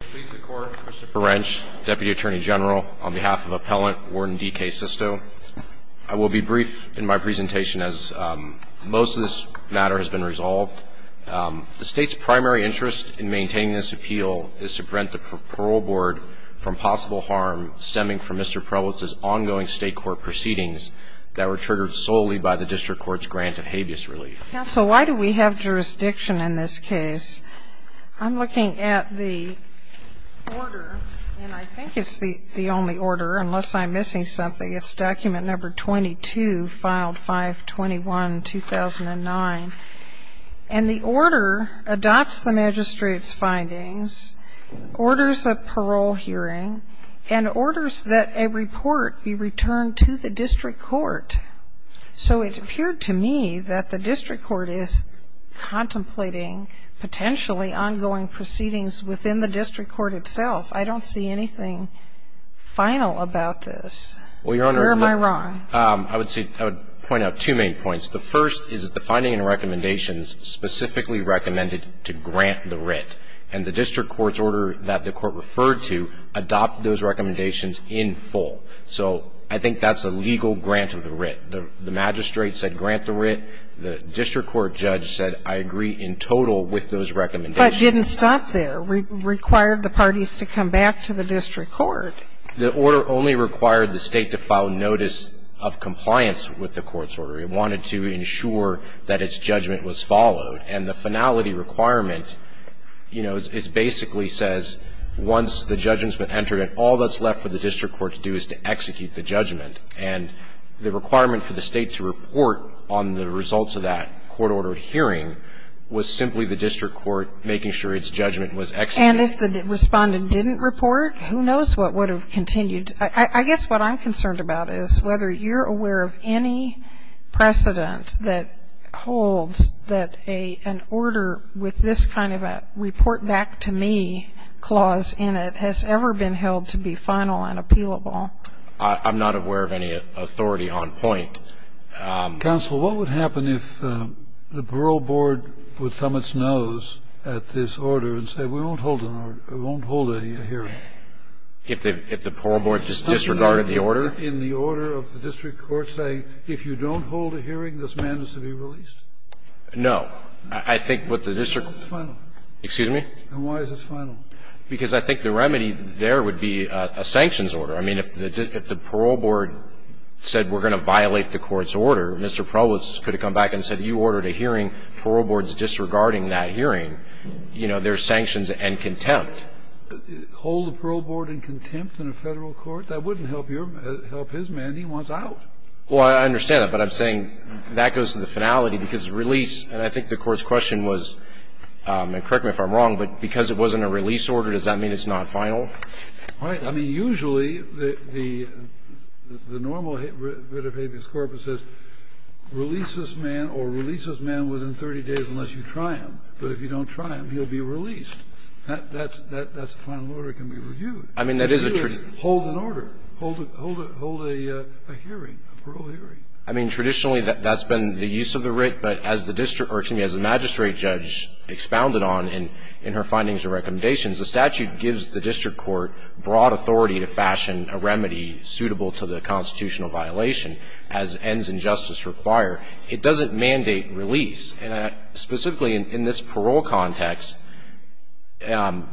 Please the court, Christopher Wrench, Deputy Attorney General, on behalf of Appellant Warden D. K. Sisto. I will be brief in my presentation as most of this matter has been resolved. The state's primary interest in maintaining this appeal is to prevent the parole board from possible harm stemming from Mr. Prellwitz's ongoing state court proceedings that were triggered solely by the district court's grant of habeas relief. Counsel, why do we have jurisdiction in this case? I'm looking at the order, and I think it's the only order, unless I'm missing something. It's document number 22, filed 5-21-2009. And the order adopts the magistrate's findings, orders a parole hearing, and orders that a report be returned to the district court. So it appeared to me that the district court is contemplating potentially ongoing proceedings within the district court itself. I don't see anything final about this. Where am I wrong? Well, Your Honor, I would point out two main points. The first is that the finding and recommendations specifically recommended to grant the writ, and the district court's order that the court referred to adopted those recommendations in full. So I think that's a legal grant of the writ. The magistrate said grant the writ. The district court judge said I agree in total with those recommendations. But it didn't stop there. It required the parties to come back to the district court. The order only required the State to file notice of compliance with the court's order. It wanted to ensure that its judgment was followed. And the finality requirement, you know, it basically says once the judgment has been entered and all that's left for the district court to do is to execute the judgment. And the requirement for the State to report on the results of that court-ordered hearing was simply the district court making sure its judgment was executed. And if the Respondent didn't report, who knows what would have continued. I guess what I'm concerned about is whether you're aware of any precedent that holds that an order with this kind of a report back to me clause in it has ever been held to be final and appealable. I'm not aware of any authority on point. Counsel, what would happen if the borough board would thumb its nose at this order and say we won't hold a hearing? If the borough board disregarded the order? In the order of the district court saying if you don't hold a hearing, this man is to be released? No. I think what the district court ---- Why is it final? Excuse me? And why is it final? Because I think the remedy there would be a sanctions order. I mean, if the parole board said we're going to violate the court's order, Mr. Provost could have come back and said you ordered a hearing, parole board's disregarding that hearing, you know, there's sanctions and contempt. Hold the parole board in contempt in a Federal court? That wouldn't help your ---- help his man. He wants out. Well, I understand that. But I'm saying that goes to the finality because release, and I think the Court's question was, and correct me if I'm wrong, but because it wasn't a release order, does that mean it's not final? Right. I mean, usually the normal bit of habeas corpus is release this man or release this man within 30 days unless you try him. But if you don't try him, he'll be released. That's a final order that can be reviewed. I mean, that is a ---- Hold an order. Hold a hearing, a parole hearing. I mean, traditionally that's been the use of the writ, but as the district or, excuse me, as the magistrate judge expounded on in her findings and recommendations, the statute gives the district court broad authority to fashion a remedy suitable to the constitutional violation as ends in justice require. It doesn't mandate release. And specifically in this parole context,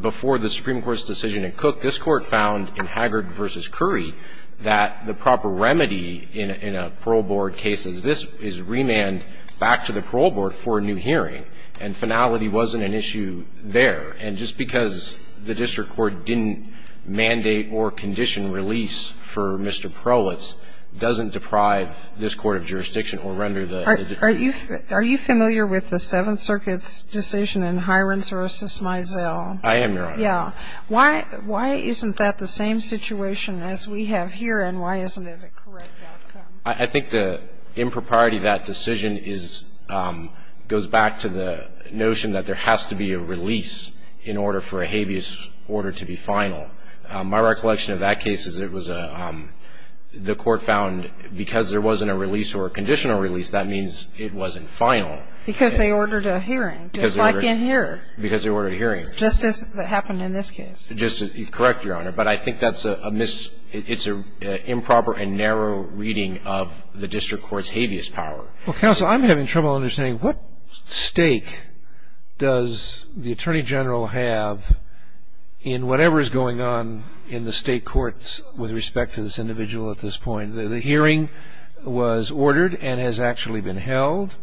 before the Supreme Court's decision in Cook, this Court found in Haggard v. Curry that the proper remedy in a parole board case is this, is remand back to the parole board for a new hearing. And finality wasn't an issue there. And just because the district court didn't mandate or condition release for Mr. Perlitz doesn't deprive this court of jurisdiction or render the ---- Are you familiar with the Seventh Circuit's decision in Hirons v. Mizell? I am, Your Honor. Yeah. Why isn't that the same situation as we have here, and why isn't it a correct outcome? I think the impropriety of that decision is goes back to the notion that there has to be a release in order for a habeas order to be final. My recollection of that case is it was a ---- the court found because there wasn't a release or a conditional release, that means it wasn't final. Because they ordered a hearing, just like in here. Because they ordered a hearing. Just as happened in this case. Correct, Your Honor. But I think that's a improper and narrow reading of the district court's habeas power. Counsel, I'm having trouble understanding. What stake does the Attorney General have in whatever is going on in the state courts with respect to this individual at this point? The hearing was ordered and has actually been held.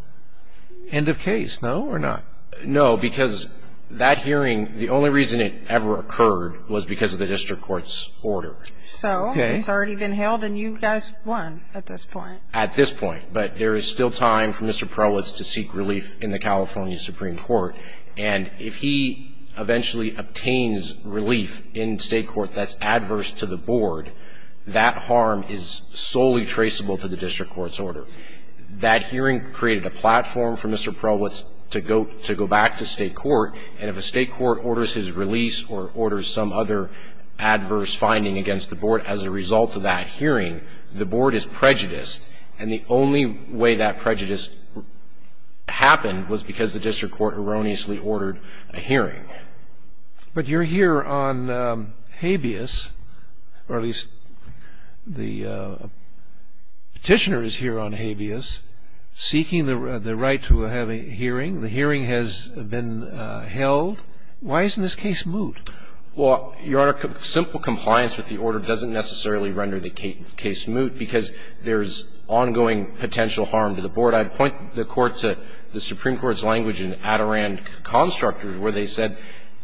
End of case, no, or not? No, because that hearing, the only reason it ever occurred was because of the district court's order. Okay. So it's already been held and you guys won at this point. At this point. But there is still time for Mr. Prowlitz to seek relief in the California Supreme Court. And if he eventually obtains relief in state court that's adverse to the board, that harm is solely traceable to the district court's order. That hearing created a platform for Mr. Prowlitz to go back to state court. And if a state court orders his release or orders some other adverse finding against the board as a result of that hearing, the board is prejudiced. And the only way that prejudice happened was because the district court erroneously ordered a hearing. But you're here on habeas, or at least the Petitioner is here on habeas. Seeking the right to have a hearing. The hearing has been held. Why isn't this case moot? Well, Your Honor, simple compliance with the order doesn't necessarily render the case moot because there's ongoing potential harm to the board. I point the Court to the Supreme Court's language in Adirondack Constructors where they said,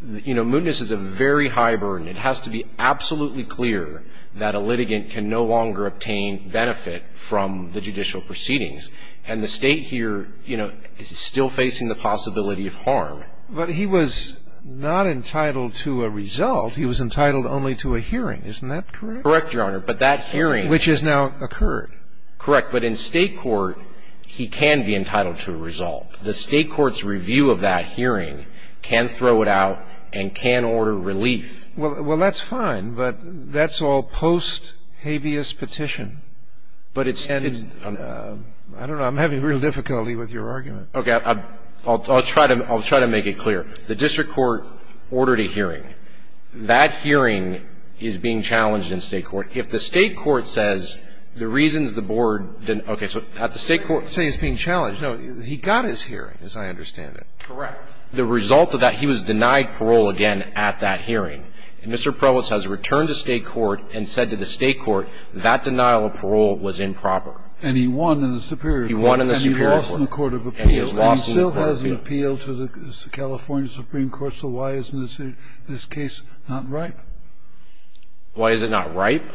you know, mootness is a very high burden. It has to be absolutely clear that a litigant can no longer obtain benefit from the judicial proceedings. And the State here, you know, is still facing the possibility of harm. But he was not entitled to a result. He was entitled only to a hearing. Isn't that correct? Correct, Your Honor. But that hearing. Which has now occurred. Correct. But in state court, he can be entitled to a result. The state court's review of that hearing can throw it out and can order relief. Well, that's fine. But that's all post habeas petition. But it's and it's. I don't know. I'm having real difficulty with your argument. Okay. I'll try to make it clear. The district court ordered a hearing. That hearing is being challenged in state court. If the state court says the reasons the board didn't. Okay. So at the state court. Say it's being challenged. No. He got his hearing, as I understand it. Correct. The result of that, he was denied parole again at that hearing. And Mr. Provost has returned to state court and said to the state court that denial of parole was improper. And he won in the superior court. He won in the superior court. And he lost in the court of appeals. And he lost in the court of appeals. But he still has an appeal to the California Supreme Court. So why isn't this case not ripe? Why is it not ripe?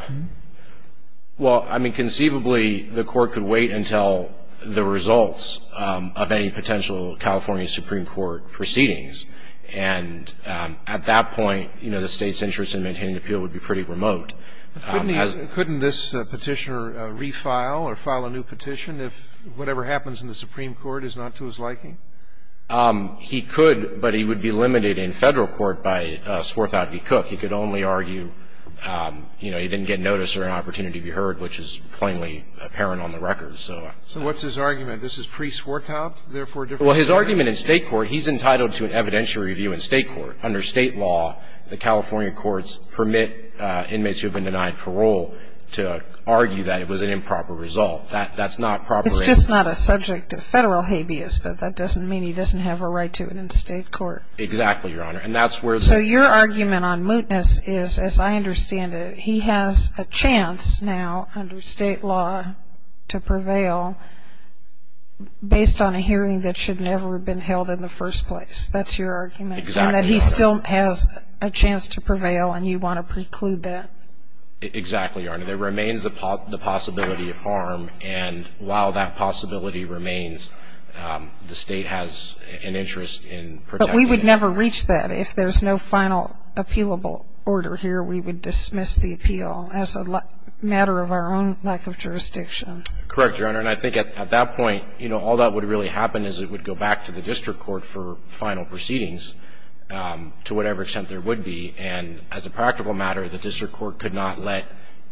Well, I mean, conceivably, the court could wait until the results of any potential California Supreme Court proceedings. And at that point, you know, the State's interest in maintaining the appeal would be pretty remote. Couldn't this Petitioner refile or file a new petition if whatever happens in the Supreme Court is not to his liking? He could, but he would be limited in Federal court by Swarthout v. Cook. He could only argue, you know, he didn't get notice or an opportunity to be heard, which is plainly apparent on the record. So what's his argument? This is pre-Swarthout, therefore a different case? Well, his argument in State court, he's entitled to an evidential review in State court. Under State law, the California courts permit inmates who have been denied parole to argue that it was an improper result. That's not properly ---- It's just not a subject of Federal habeas, but that doesn't mean he doesn't have a right to it in State court. Exactly, Your Honor. And that's where the ---- So your argument on mootness is, as I understand it, he has a chance now under State law to prevail based on a hearing that should never have been held in the first place. That's your argument? Exactly, Your Honor. And that he still has a chance to prevail, and you want to preclude that? Exactly, Your Honor. There remains the possibility of harm, and while that possibility remains, the State has an interest in protecting it. But we would never reach that. If there's no final appealable order here, we would dismiss the appeal as a matter of our own lack of jurisdiction. Correct, Your Honor. And I think at that point, you know, all that would really happen is it would go back to the district court for final proceedings, to whatever extent there would be. And as a practical matter, the district court could not let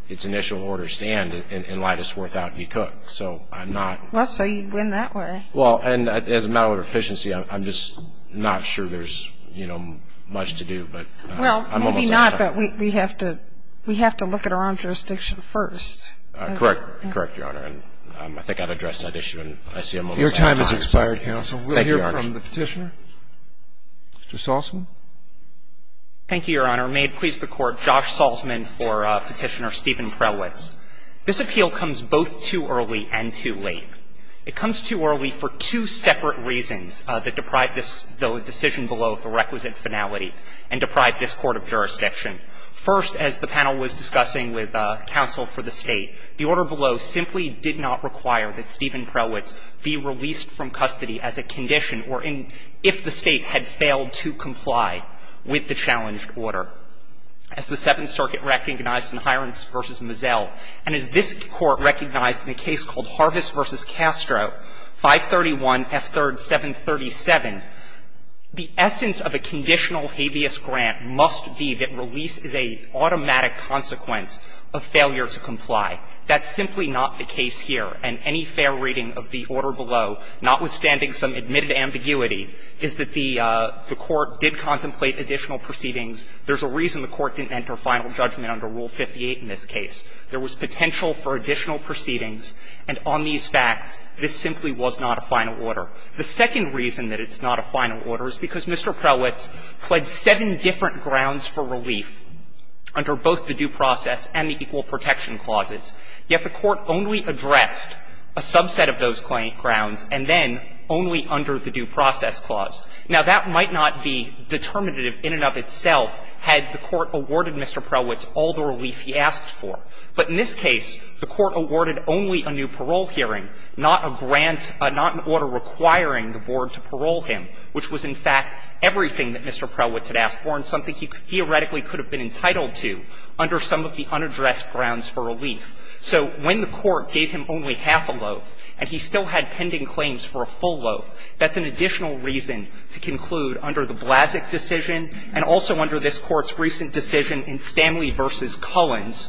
its initial order stand and lie to Swarthout v. Cook. So I'm not ---- Well, so you'd win that way. Well, and as a matter of efficiency, I'm just not sure there's, you know, much to do. Well, maybe not, but we have to look at our own jurisdiction first. Correct. Correct, Your Honor. And I think I'd address that issue in ICM over time. Your time has expired, counsel. Thank you, Your Honor. We'll hear from the Petitioner. Mr. Salzman. Thank you, Your Honor. May it please the Court, Josh Salzman for Petitioner Steven Prelwitz. This appeal comes both too early and too late. It comes too early for two separate reasons that deprive this decision below the requisite finality and deprive this court of jurisdiction. First, as the panel was discussing with counsel for the State, the order below simply did not require that Steven Prelwitz be released from custody as a condition or in ---- if the State had failed to comply with the challenged order. As the Seventh Circuit recognized in Hirons v. Mazzell, and as this Court recognized in a case called Harvis v. Castro, 531 F. 3rd. 737, the essence of a conditional habeas grant must be that release is an automatic consequence of failure to comply. That's simply not the case here. And any fair reading of the order below, notwithstanding some admitted ambiguity, is that the Court did contemplate additional proceedings. There's a reason the Court didn't enter final judgment under Rule 58 in this case. There was potential for additional proceedings. And on these facts, this simply was not a final order. The second reason that it's not a final order is because Mr. Prelwitz pledged seven different grounds for relief under both the due process and the equal protection clauses, yet the Court only addressed a subset of those grounds and then only under the due process clause. Now, that might not be determinative in and of itself had the Court awarded Mr. Prelwitz all the relief he asked for. But in this case, the Court awarded only a new parole hearing, not a grant or not an order requiring the board to parole him, which was, in fact, everything that Mr. Prelwitz had asked for and something he theoretically could have been entitled to under some of the unaddressed grounds for relief. So when the Court gave him only half a loaf and he still had pending claims for a full loaf, that's an additional reason to conclude under the Blasek decision and also under this Court's recent decision in Stanley v. Cullins,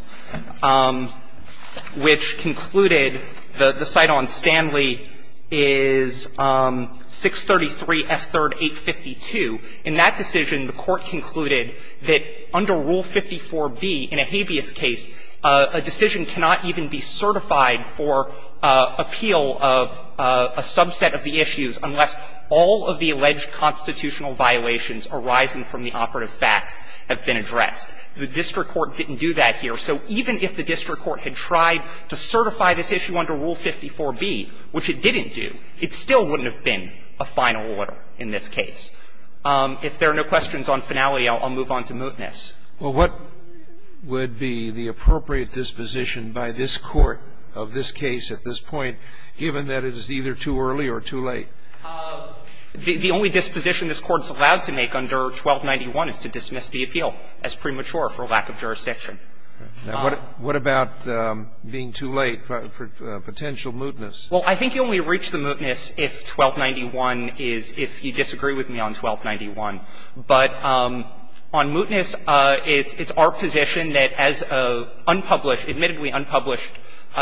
which concluded the site on Stanley is 633 F. 3rd, 852. In that decision, the Court concluded that under Rule 54b in a habeas case, a decision cannot even be certified for appeal of a subset of the issues unless all of the alleged constitutional violations arising from the operative facts have been addressed. The district court didn't do that here. So even if the district court had tried to certify this issue under Rule 54b, which it didn't do, it still wouldn't have been a final order in this case. If there are no questions on finality, I'll move on to mootness. Scalia. Well, what would be the appropriate disposition by this Court of this case at this point, given that it is either too early or too late? The only disposition this Court's allowed to make under 1291 is to dismiss the appeal as premature for lack of jurisdiction. Now, what about being too late for potential mootness? Well, I think you only reach the mootness if 1291 is – if you disagree with me on 1291. But on mootness, it's our position that as an unpublished, admittedly unpublished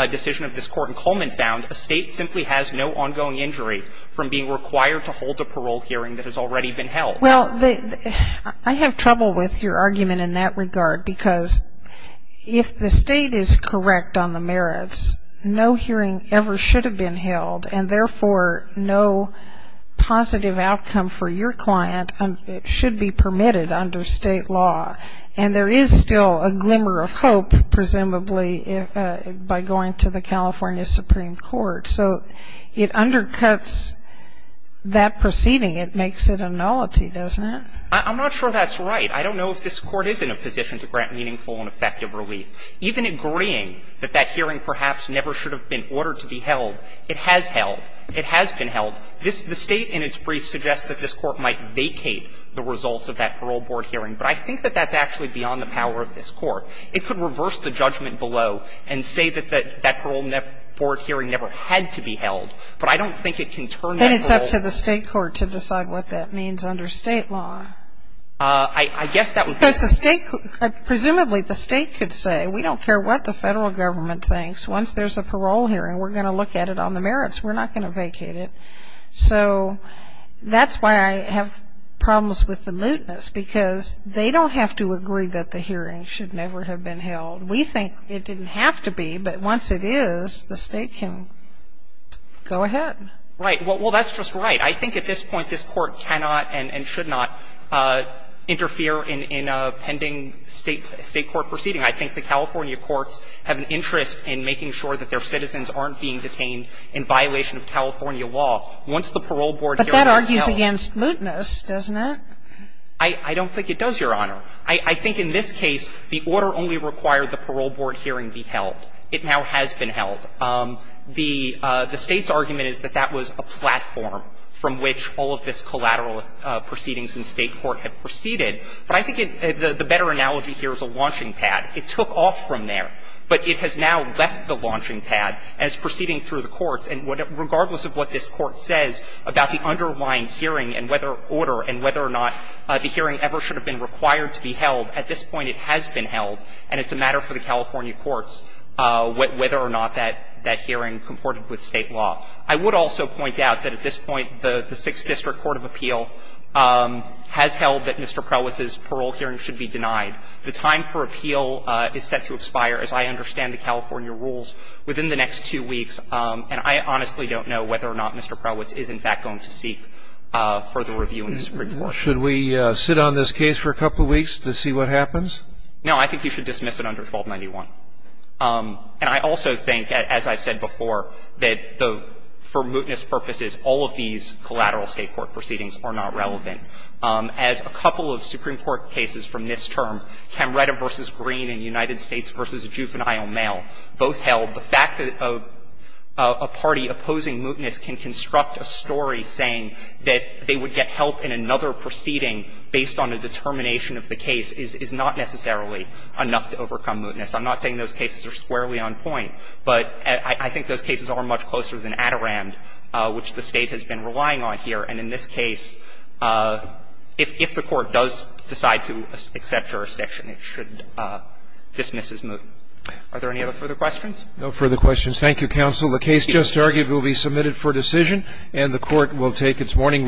decision of this Court in Cullman found, a state simply has no ongoing injury from being required to hold a parole hearing that has already been held. Well, I have trouble with your argument in that regard, because if the state is correct on the merits, no hearing ever should have been held, and therefore, no positive outcome for your client should be permitted under state law. And there is still a glimmer of hope, presumably, by going to the California Supreme Court. So it undercuts that proceeding. It makes it a nullity, doesn't it? I'm not sure that's right. I don't know if this Court is in a position to grant meaningful and effective relief. Even agreeing that that hearing perhaps never should have been ordered to be held, it has held. It has been held. This – the state in its brief suggests that this Court might vacate the results of that parole board hearing. But I think that that's actually beyond the power of this Court. It could reverse the judgment below and say that that parole board hearing never had to be held. But I don't think it can turn that parole – Then it's up to the state court to decide what that means under state law. I guess that would – Because the state – presumably, the state could say, we don't care what the federal government thinks. Once there's a parole hearing, we're going to look at it on the merits. We're not going to vacate it. So that's why I have problems with the lutenists, because they don't have to agree that the hearing should never have been held. We think it didn't have to be, but once it is, the state can go ahead. Right. Well, that's just right. I think at this point, this Court cannot and should not interfere in a pending state court proceeding. I think the California courts have an interest in making sure that their citizens aren't being detained in violation of California law once the parole board hearing is held. But that argues against lutenists, doesn't it? I don't think it does, Your Honor. I think in this case, the order only required the parole board hearing be held. It now has been held. The State's argument is that that was a platform from which all of this collateral proceedings in state court had proceeded. But I think the better analogy here is a launching pad. It took off from there. But it has now left the launching pad and is proceeding through the courts. And regardless of what this Court says about the underlying hearing and whether order and whether or not the hearing ever should have been required to be held, at this point it has been held and it's a matter for the California courts whether or not that hearing comported with state law. I would also point out that at this point, the Sixth District Court of Appeal has The time for appeal is set to expire, as I understand the California rules, within the next two weeks. And I honestly don't know whether or not Mr. Prowitz is, in fact, going to seek further review in the Supreme Court. Should we sit on this case for a couple of weeks to see what happens? No. I think you should dismiss it under 1291. And I also think, as I've said before, that for lutenist purposes, all of these collateral state court proceedings are not relevant. As a couple of Supreme Court cases from this term, Camretta v. Green and United States v. Juvenile Mail, both held the fact that a party opposing lutenist can construct a story saying that they would get help in another proceeding based on a determination of the case is not necessarily enough to overcome lutenist. I'm not saying those cases are squarely on point, but I think those cases are much closer than Adirond, which the State has been relying on here. And in this case, if the Court does decide to accept jurisdiction, it should dismiss his movement. Are there any other further questions? No further questions. Thank you, counsel. The case just argued will be submitted for decision, and the Court will take its morning recess.